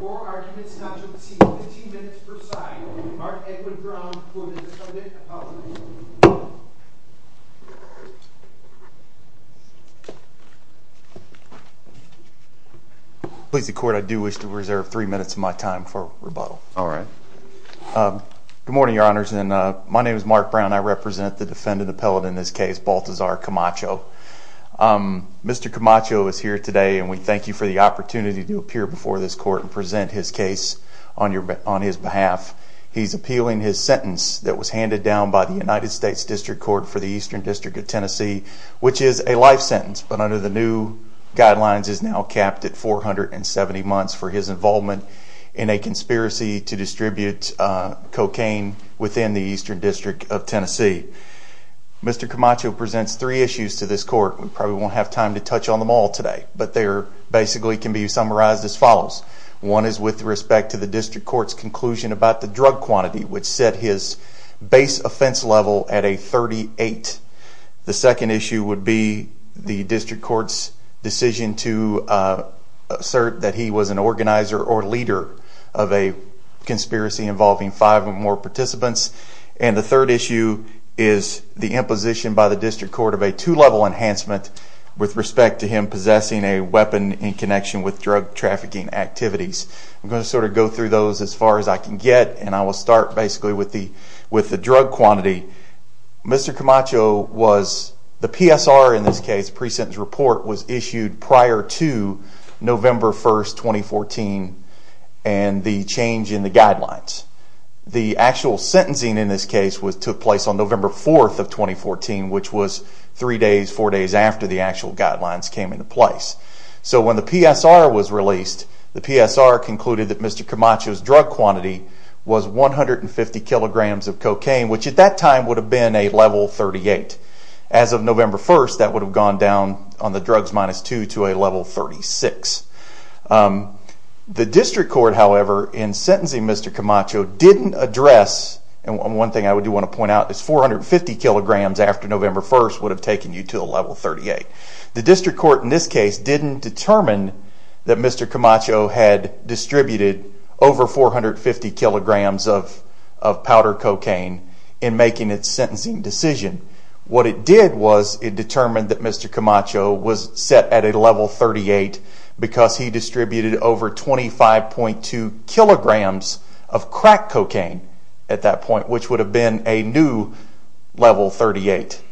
for arguments not to exceed 15 minutes per side. Mark Edmund Brown for the defendant's apology. Please the court, I do wish to reserve three minutes of my time for rebuttal. Good morning, your honors. My name is Mark Brown. I represent the defendant appellate in this case, Baltazar Camacho. Mr. Camacho is here today and we thank you for the opportunity to appear before this court and present his case on his behalf. He's appealing his sentence that was handed down by the United States District Court for the Eastern District of Tennessee, which is a life sentence, but under the new guidelines is now capped at 470 months for his involvement in a conspiracy to distribute cocaine within the Eastern District of Tennessee. Mr. Camacho presents three issues to this court. We probably won't have time to touch on them all today, but they basically can be summarized as follows. One is with respect to the district court's conclusion about the drug quantity, which set his base offense level at a 38. The second issue would be the district court's decision to assert that he was an organizer or leader of a conspiracy involving five or more participants. And the third issue is the imposition by the district court of a two-level enhancement with respect to him possessing a weapon in connection with drug trafficking activities. I'm going to sort of go through those as far as I can get, and I will start basically with the drug quantity. Mr. Camacho was, the PSR in this case, pre-sentence report, was issued prior to November 1st, 2014 and the change in the guidelines. The actual sentencing in this case took place on November 4th of 2014, which was three days, four days after the actual guidelines came into place. So when the PSR was released, the PSR concluded that Mr. Camacho's drug quantity was 150 kilograms of cocaine, which at that time would have been a level 38. As of November 1st, that would have gone down on the drugs minus two to a level 36. The district court, however, in sentencing Mr. Camacho, didn't address, and one thing I do want to point out, is 450 kilograms after November 1st would have taken you to a level 38. The district court in this case didn't determine that Mr. Camacho had distributed over 450 kilograms of powder cocaine in making its sentencing decision. What it did was it determined that Mr. Camacho was set at a level 38 because he distributed over 25.2 kilograms of crack cocaine at that point, which would have been a new level 38.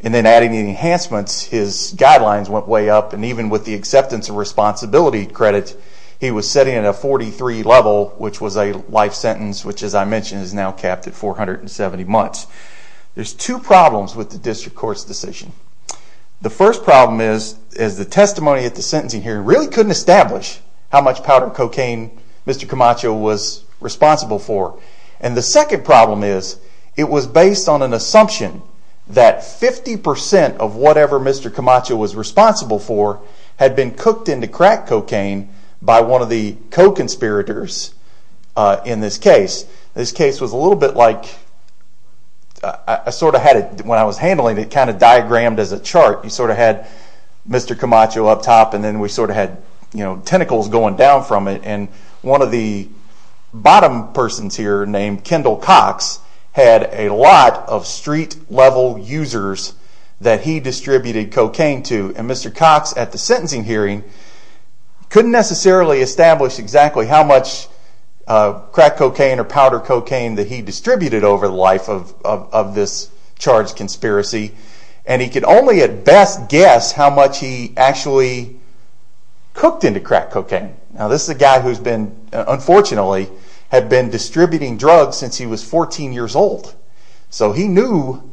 And then adding the enhancements, his guidelines went way up, and even with the acceptance and responsibility credit, he was sitting at a 43 level, which was a life sentence, which as I mentioned is now capped at 470 months. There's two problems with the district court's decision. The first problem is the testimony at the sentencing hearing really couldn't establish how much powder cocaine Mr. Camacho was responsible for. And the second problem is it was based on an assumption that 50% of whatever Mr. Camacho was responsible for had been cooked into crack cocaine by one of the co-conspirators in this case. This case was a little bit like, I sort of had it, when I was handling it, kind of diagrammed as a chart. You sort of had Mr. Camacho up top and then we sort of had tentacles going down from it. And one of the bottom persons here named Kendall Cox had a lot of street level users that he distributed cocaine to. And Mr. Cox at the time was a little bit over the life of this charge conspiracy. And he could only at best guess how much he actually cooked into crack cocaine. Now this is a guy who's been, unfortunately, had been distributing drugs since he was 14 years old. So he knew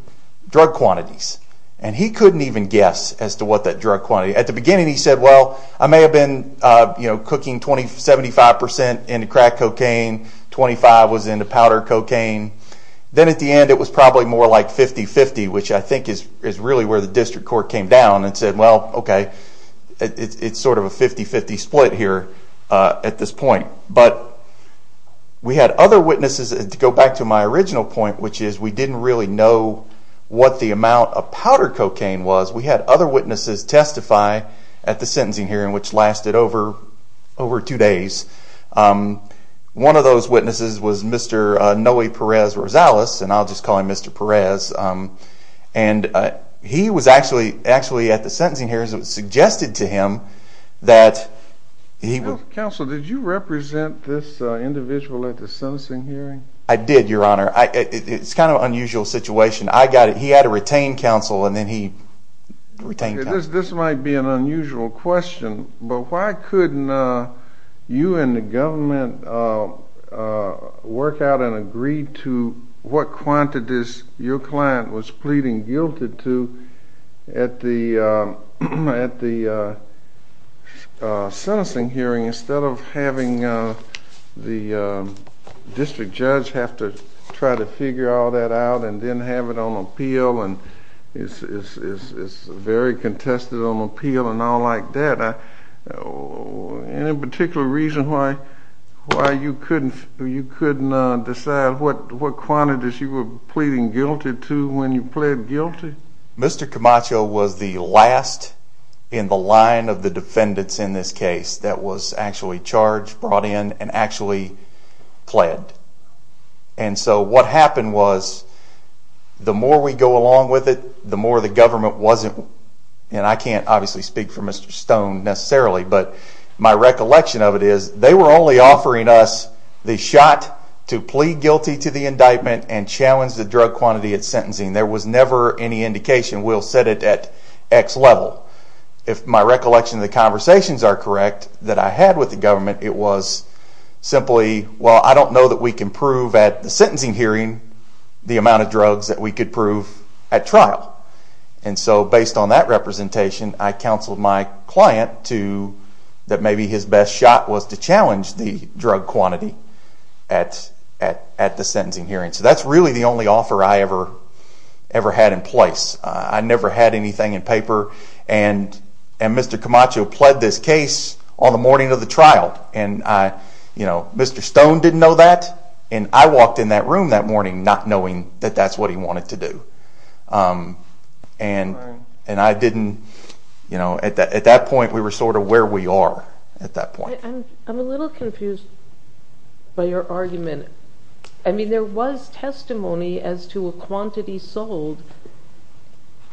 drug quantities. And he couldn't even Then at the end it was probably more like 50-50, which I think is really where the district court came down and said, well, okay, it's sort of a 50-50 split here at this point. But we had other witnesses, to go back to my original point, which is we didn't really know what the amount of powder cocaine was. We had other witnesses testify at the sentencing hearing, which lasted over two days. One of those witnesses was Mr. Noe Perez-Rosales. And I'll just call him Mr. Perez. And he was actually at the sentencing hearing. It was suggested to him that he would Counsel, did you represent this individual at the sentencing hearing? I did, Your Honor. It's kind of an unusual situation. He had to retain counsel and then he retained counsel. This might be an unusual question, but why couldn't you and the government work out and agree to what quantities your client was pleading guilty to when you pled guilty? Mr. Camacho was the last in the line of the defendants in this case that was actually charged, brought in, and actually pled. And so what happened was the more we go along with it, the more the government wasn't, and I can't obviously speak for Mr. Stone necessarily, but my recollection of it is that they were only offering us the shot to plead guilty to the indictment and challenge the drug quantity at sentencing. There was never any indication we'll set it at X level. If my recollection of the conversations are correct, that I had with the government, it was simply, well I don't know that we can prove at the sentencing hearing the amount of drugs that we could prove at trial. And so based on that representation, I challenged the drug quantity at the sentencing hearing. So that's really the only offer I ever had in place. I never had anything in paper, and Mr. Camacho pled this case on the morning of the trial. Mr. Stone didn't know that, and I walked in that room that morning not knowing that that's what he wanted to do. And I didn't, you know, at that point we were sort of where we are at that point. I'm a little confused by your argument. I mean there was testimony as to a quantity sold,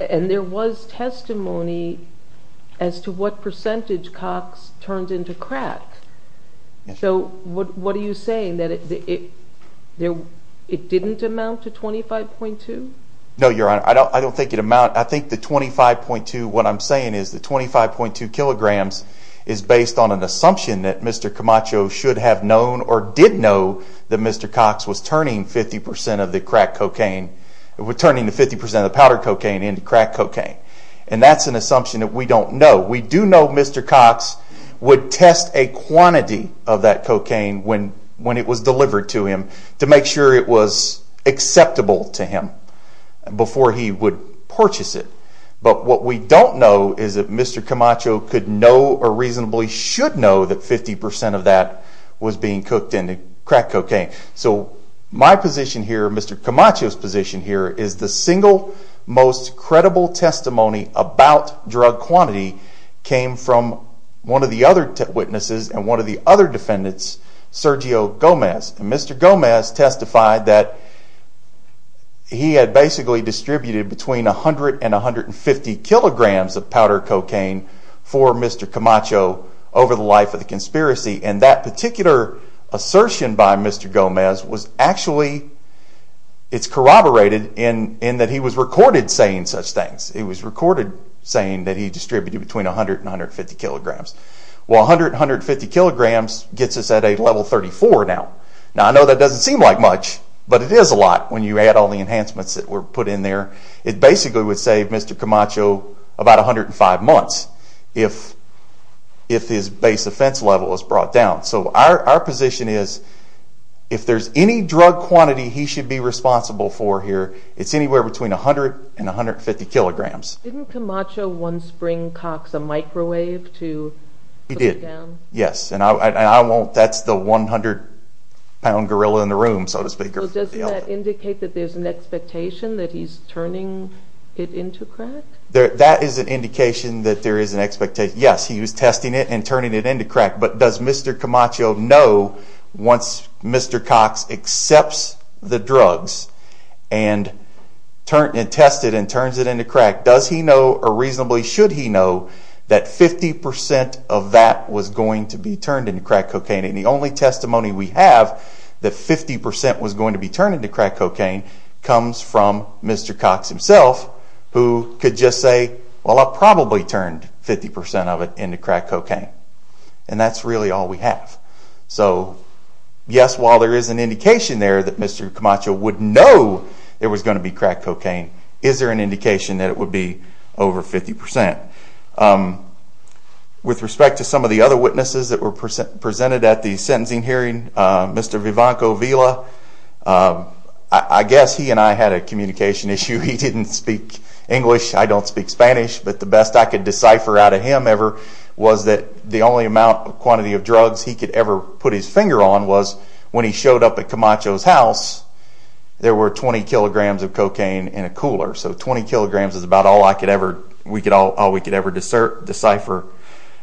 and there was testimony as to what percentage Cox turned into crack. So what are you saying, that it didn't amount to 25.2? No, Your Honor, I don't think it amount, I think the 25.2, what I'm saying is the 25.2 kilograms is based on an assumption that Mr. Camacho should have known or did know that Mr. Cox was turning 50% of the crack cocaine, turning 50% of the cocaine into crack cocaine. He would test a quantity of that cocaine when it was delivered to him to make sure it was acceptable to him before he would purchase it. But what we don't know is if Mr. Camacho could know or reasonably should know that 50% of that was being cooked into crack cocaine. So my position here, Mr. Camacho's position here, is the single most credible testimony about drug quantity came from one of the other witnesses and one of the other defendants, Sergio Gomez. And Mr. Gomez testified that he had basically distributed between 100 and 150 kilograms of powder cocaine for Mr. Camacho over the life of the conspiracy. And that particular assertion by Mr. Gomez was actually, it's corroborated in that he was recorded saying such things. It was recorded saying that he distributed between 100 and 150 kilograms. Well, 100 and 150 kilograms gets us at a level 34 now. Now I know that doesn't seem like much, but it is a lot when you add all the enhancements that were put in there. It basically would save Mr. Camacho about 105 months if his base offense level was brought down. So our position is if there's any drug quantity he should be responsible for here, it's anywhere between 100 and 150 kilograms. Didn't Camacho once bring Cox a microwave to put it down? He did, yes. And I won't, that's the 100 pound gorilla in the room, so to speak. Doesn't that indicate that there's an expectation that he's turning it into crack? That is an indication that there is an expectation. Yes, he was testing it and does he know or reasonably should he know that 50% of that was going to be turned into crack cocaine? And the only testimony we have that 50% was going to be turned into crack cocaine comes from Mr. Cox himself who could just say, well I probably turned 50% of it into crack cocaine. And that's really all we have. So yes, while there is an indication there that Mr. Camacho would know there was going to be crack cocaine, is there an indication that it would be over 50%? With respect to some of the other witnesses that were presented at the sentencing hearing, Mr. Vivanco Villa, I guess he and I had a communication issue. He didn't speak English, I don't speak Spanish, but the best I could decipher out of him ever was that the only amount of quantity of drugs he could ever put his finger on was when he showed up at Camacho's house, there were 20 kilograms of cocaine in a cooler. So 20 kilograms is about all we could ever decipher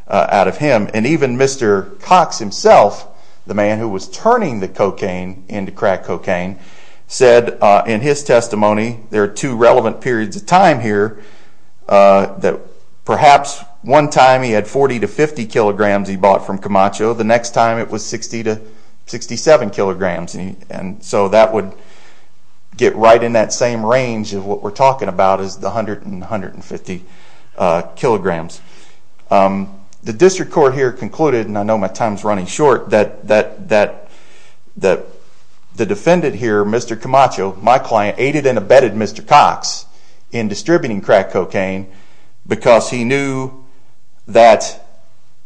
out of him. And even Mr. Cox himself, the man who was turning the cocaine into crack cocaine, said in his testimony, there are two relevant periods of time here, that perhaps one time he had 40 to 50 kilograms he bought from Camacho, the next time it was 60 to 67 kilograms. So that would get right in that same range of what we're talking about is the 100 and 150 kilograms. The district court here concluded, and I know my time is running short, that the defendant here, Mr. Camacho, my client, aided and abetted Mr. Cox in distributing crack cocaine because he knew that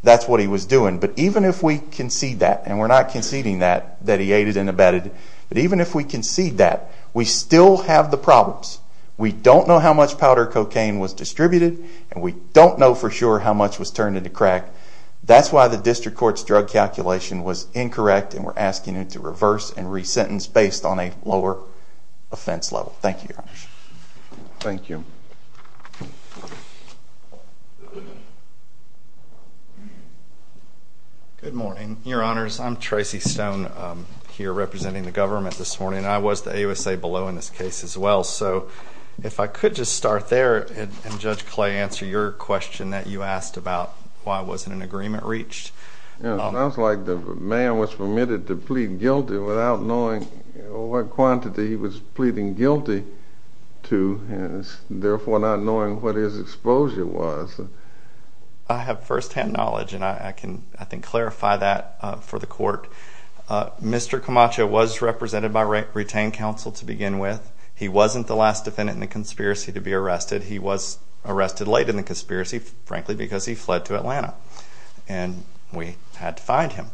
that's what he was doing. But even if we concede that, and we're not conceding that, that he aided and abetted, but even if we concede that, we still have the problems. We don't know how much powder cocaine was distributed, and we don't know for sure how much was turned into crack. That's why the district court's drug calculation was incorrect, and we're asking it to reverse and re-sentence based on a lower offense level. Thank you, Your Honor. Thank you. Good morning, Your Honors. I'm Tracy Stone, here representing the government this morning, and I was the AUSA below in this case as well. So if I could just start there, and Judge Clay, answer your question that you asked about why wasn't an agreement reached. It sounds like the man was permitted to plead guilty without knowing what quantity he was pleading guilty to, and therefore not knowing what his exposure was. I have firsthand knowledge, and I can, I think, clarify that for the court. Mr. Camacho was represented by retained counsel to begin with. He wasn't the last defendant in the conspiracy to be arrested. He was arrested late in the conspiracy, frankly, because he fled to Atlanta, and we had to find him.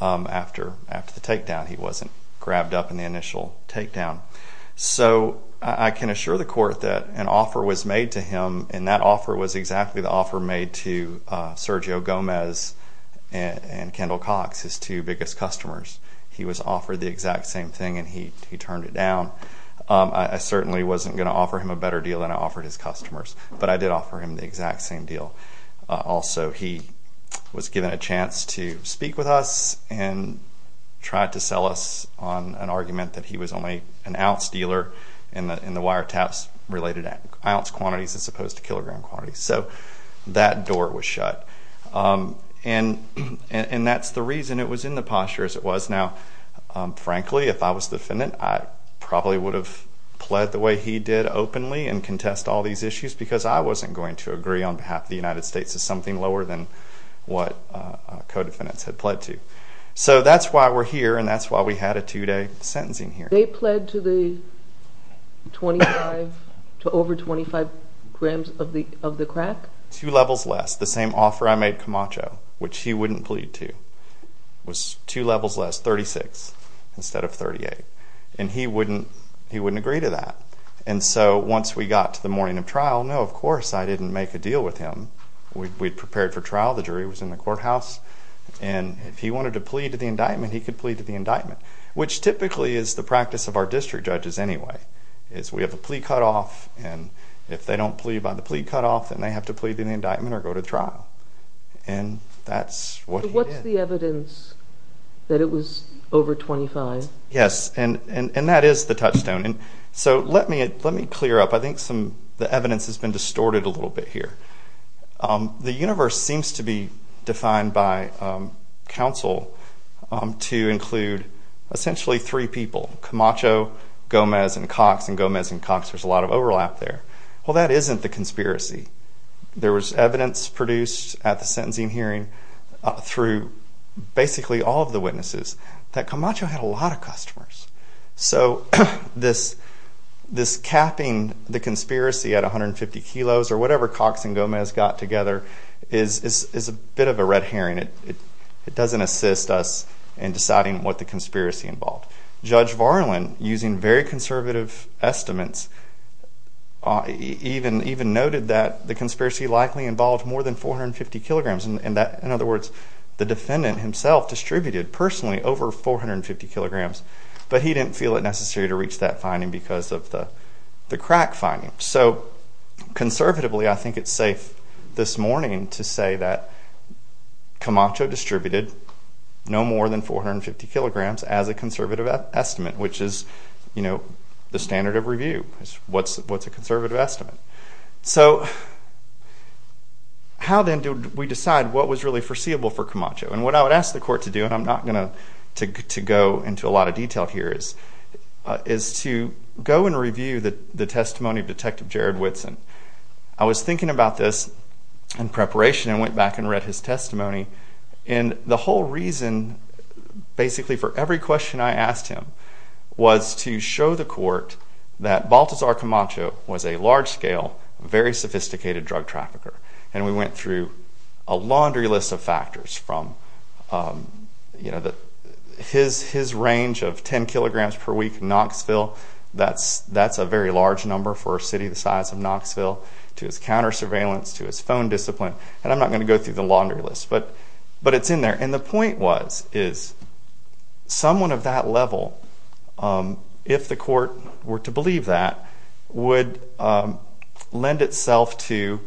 After the takedown, he wasn't grabbed up in the initial takedown. So I can assure the court that an offer was made to him, and that offer was exactly the offer made to Sergio Gomez and Kendall Cox, his two biggest customers. He was offered the exact same thing, and he turned it down. I certainly wasn't going to offer him a better deal than I offered his customers, but I did offer him the exact same deal. Also, he was given a chance to speak with us and tried to sell us on an argument that he was only an ounce dealer in the wiretaps-related ounce quantities as opposed to kilogram quantities. So that door was shut, and that's the reason it was in the posture as it was. Now, frankly, if I was the defendant, I probably would have pled the way he did openly and contest all these issues because I wasn't going to agree on behalf of the United States as something lower than what co-defendants had pled to. So that's why we're here, and that's why we had a two-day sentencing hearing. They pled to the 25, to over 25 grams of the crack? Two levels less. The same offer I made Camacho, which he wouldn't plead to, was two levels less, 36 instead of 38, and he wouldn't agree to that. And so once we got to the morning of trial, no, of course I didn't make a deal with him. We'd prepared for trial. The jury was in the courthouse, and if he wanted to plead to the indictment, he could plead to the indictment, which typically is the practice of our district judges anyway. We have a plea cutoff, and if they don't plead by the plea cutoff, then they have to plead to the indictment or go to trial. And that's what he did. So what's the evidence that it was over 25? Yes, and that is the touchstone. So let me clear up. I think the evidence has been distorted a little bit here. The universe seems to be defined by counsel to include essentially three people, Camacho, Gomez, and Cox, and Gomez and Cox, there's a lot of overlap there. Well, that isn't the conspiracy. There was evidence produced at the sentencing hearing through basically all of the witnesses that Camacho had a lot of customers. So this capping the conspiracy at 150 kilos or whatever Cox and Gomez got together is a bit of a red herring. It doesn't assist us in deciding what the conspiracy involved. Judge Varlin, using very conservative estimates, even noted that the conspiracy likely involved more than 450 kilograms. In other words, the defendant himself distributed personally over 450 kilograms. But he didn't feel it necessary to reach that finding because of the crack finding. So conservatively, I think it's safe this morning to say that Camacho distributed no more than 450 kilograms as a conservative estimate, which is the standard of review. What's a conservative estimate? So how then do we decide what was really foreseeable for Camacho? And what I would ask the court to do, and I'm not going to go into a lot of detail here, is to go and review the testimony of Detective Jared Whitson. I was thinking about this in preparation and went back and read his testimony. And the whole reason, basically for every question I asked him, was to show the court that Baltazar Camacho was a large-scale, very sophisticated drug trafficker. And we went through a laundry list of factors from his range of 10 kilograms per week in Knoxville. That's a very large number for a city the size of Knoxville, to his counter surveillance, to his phone discipline. And I'm not going to go through the laundry list, but it's in there. And the point was, is someone of that level, if the court were to believe that, would lend itself to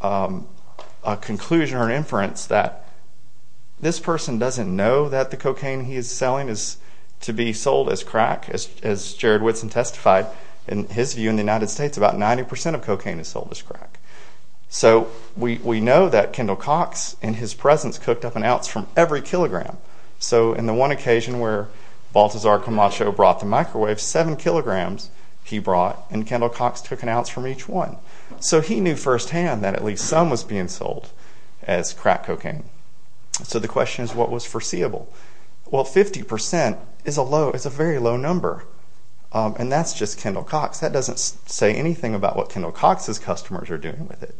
a conclusion or inference that this person doesn't know that the cocaine he is selling is to be sold as crack. As Jared Whitson testified, in his view in the United States, about 90 percent of cocaine is sold as crack. So we know that Kendall Cox, in his presence, cooked up an ounce from every kilogram. So in the one occasion where Baltazar Camacho brought the microwave, seven kilograms he brought, and Kendall Cox took an ounce from each one. So he knew firsthand that at least some was being sold as crack cocaine. So the question is, what was foreseeable? Well, 50 percent is a very low number. And that's just Kendall Cox. That doesn't say anything about what Kendall Cox's customers are doing with it.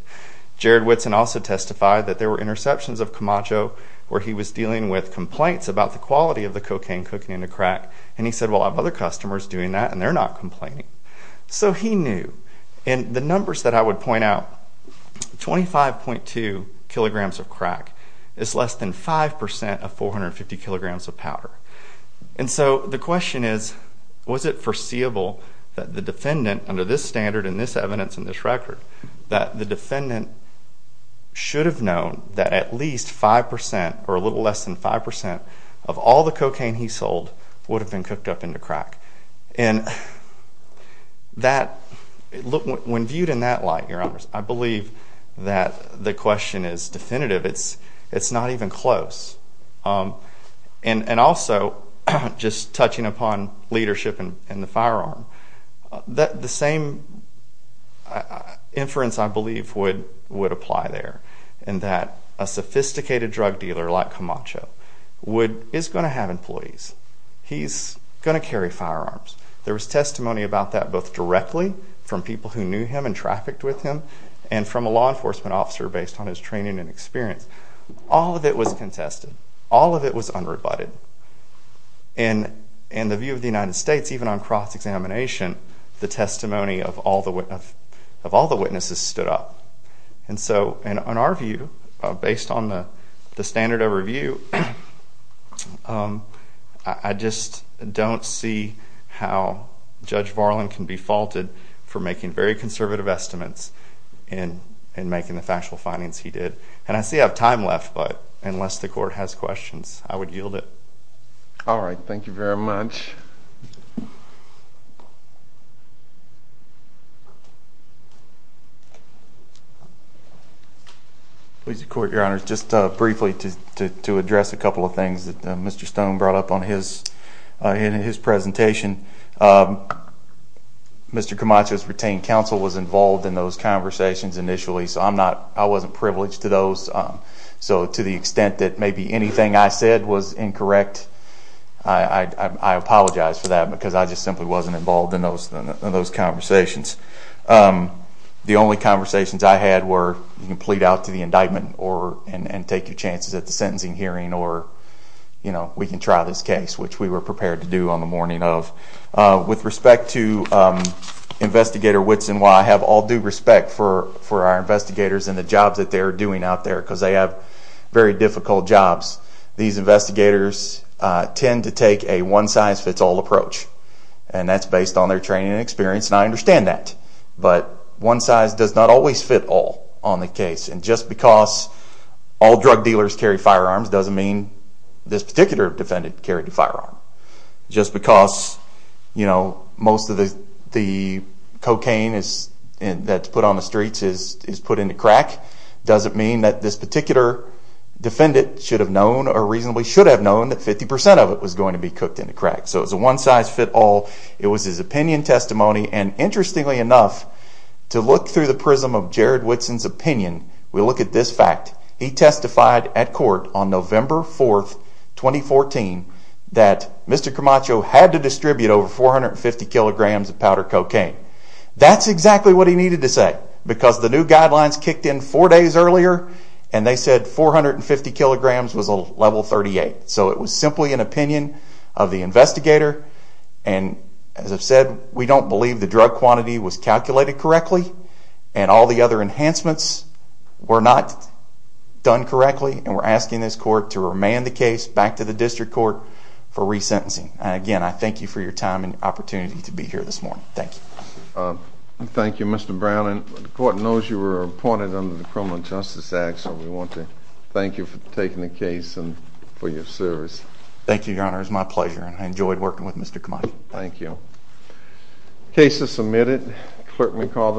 Jared Whitson also testified that there were interceptions of Camacho where he was dealing with complaints about the quality of the cocaine cooking into crack. And he said, well, I have other customers doing that, and they're not complaining. So he knew. And the numbers that I would point out, 25.2 kilograms of crack is less than 5 percent of 450 kilograms of powder. And so the question is, was it foreseeable that the defendant, under this standard and this evidence and this record, that the defendant should have known that at least 5 percent or a little less than 5 percent of all the cocaine he sold would have been cooked up into crack? And when viewed in that light, Your Honors, I believe that the question is definitive. It's not even close. And also, just touching upon leadership and the firearm, the same inference, I believe, would apply there, in that a sophisticated drug dealer like Camacho is going to have employees. He's going to carry firearms. There was testimony about that both directly from people who knew him and trafficked with him and from a law enforcement officer based on his training and experience. All of it was contested. All of it was unrebutted. In the view of the United States, even on cross-examination, the testimony of all the witnesses stood up. And so, in our view, based on the standard of review, I just don't see how Judge Varlin can be faulted for making very conservative estimates in making the factual findings he did. And I see I have time left, but unless the Court has questions, I would yield it. All right. Thank you very much. Please, the Court, Your Honors, just briefly to address a couple of things that Mr. Stone brought up in his presentation. Mr. Camacho's retained counsel was involved in those conversations initially, so I wasn't privileged to those. So to the extent that maybe anything I said was incorrect, I apologize for that because I just simply wasn't involved in those conversations. The only conversations I had were you can plead out to the indictment and take your chances at the sentencing hearing or we can try this case, which we were prepared to do on the morning of. With respect to Investigator Whitson, while I have all due respect for our investigators and the jobs that they are doing out there because they have very difficult jobs, these investigators tend to take a one-size-fits-all approach. And that's based on their training and experience, and I understand that. But one size does not always fit all on the case. And just because all drug dealers carry firearms doesn't mean this particular defendant carried a firearm. Just because most of the cocaine that's put on the streets is put into crack doesn't mean that this particular defendant should have known or reasonably should have known that 50% of it was going to be cooked into crack. So it's a one-size-fits-all. It was his opinion, testimony, and interestingly enough, to look through the prism of Jared Whitson's opinion, we look at this fact. He testified at court on November 4th, 2014, that Mr. Camacho had to distribute over 450 kilograms of powder cocaine. That's exactly what he needed to say, because the new guidelines kicked in four days earlier and they said 450 kilograms was a level 38. So it was simply an opinion of the investigator, and as I've said, we don't believe the drug quantity was calculated correctly and all the other enhancements were not done correctly, and we're asking this court to remand the case back to the district court for resentencing. Again, I thank you for your time and your opportunity to be here this morning. Thank you. Thank you, Mr. Brown. The court knows you were appointed under the Criminal Justice Act, so we want to thank you for taking the case and for your service. Thank you, Your Honor. It was my pleasure, and I enjoyed working with Mr. Camacho. Thank you. The case is submitted. The clerk will call the roll.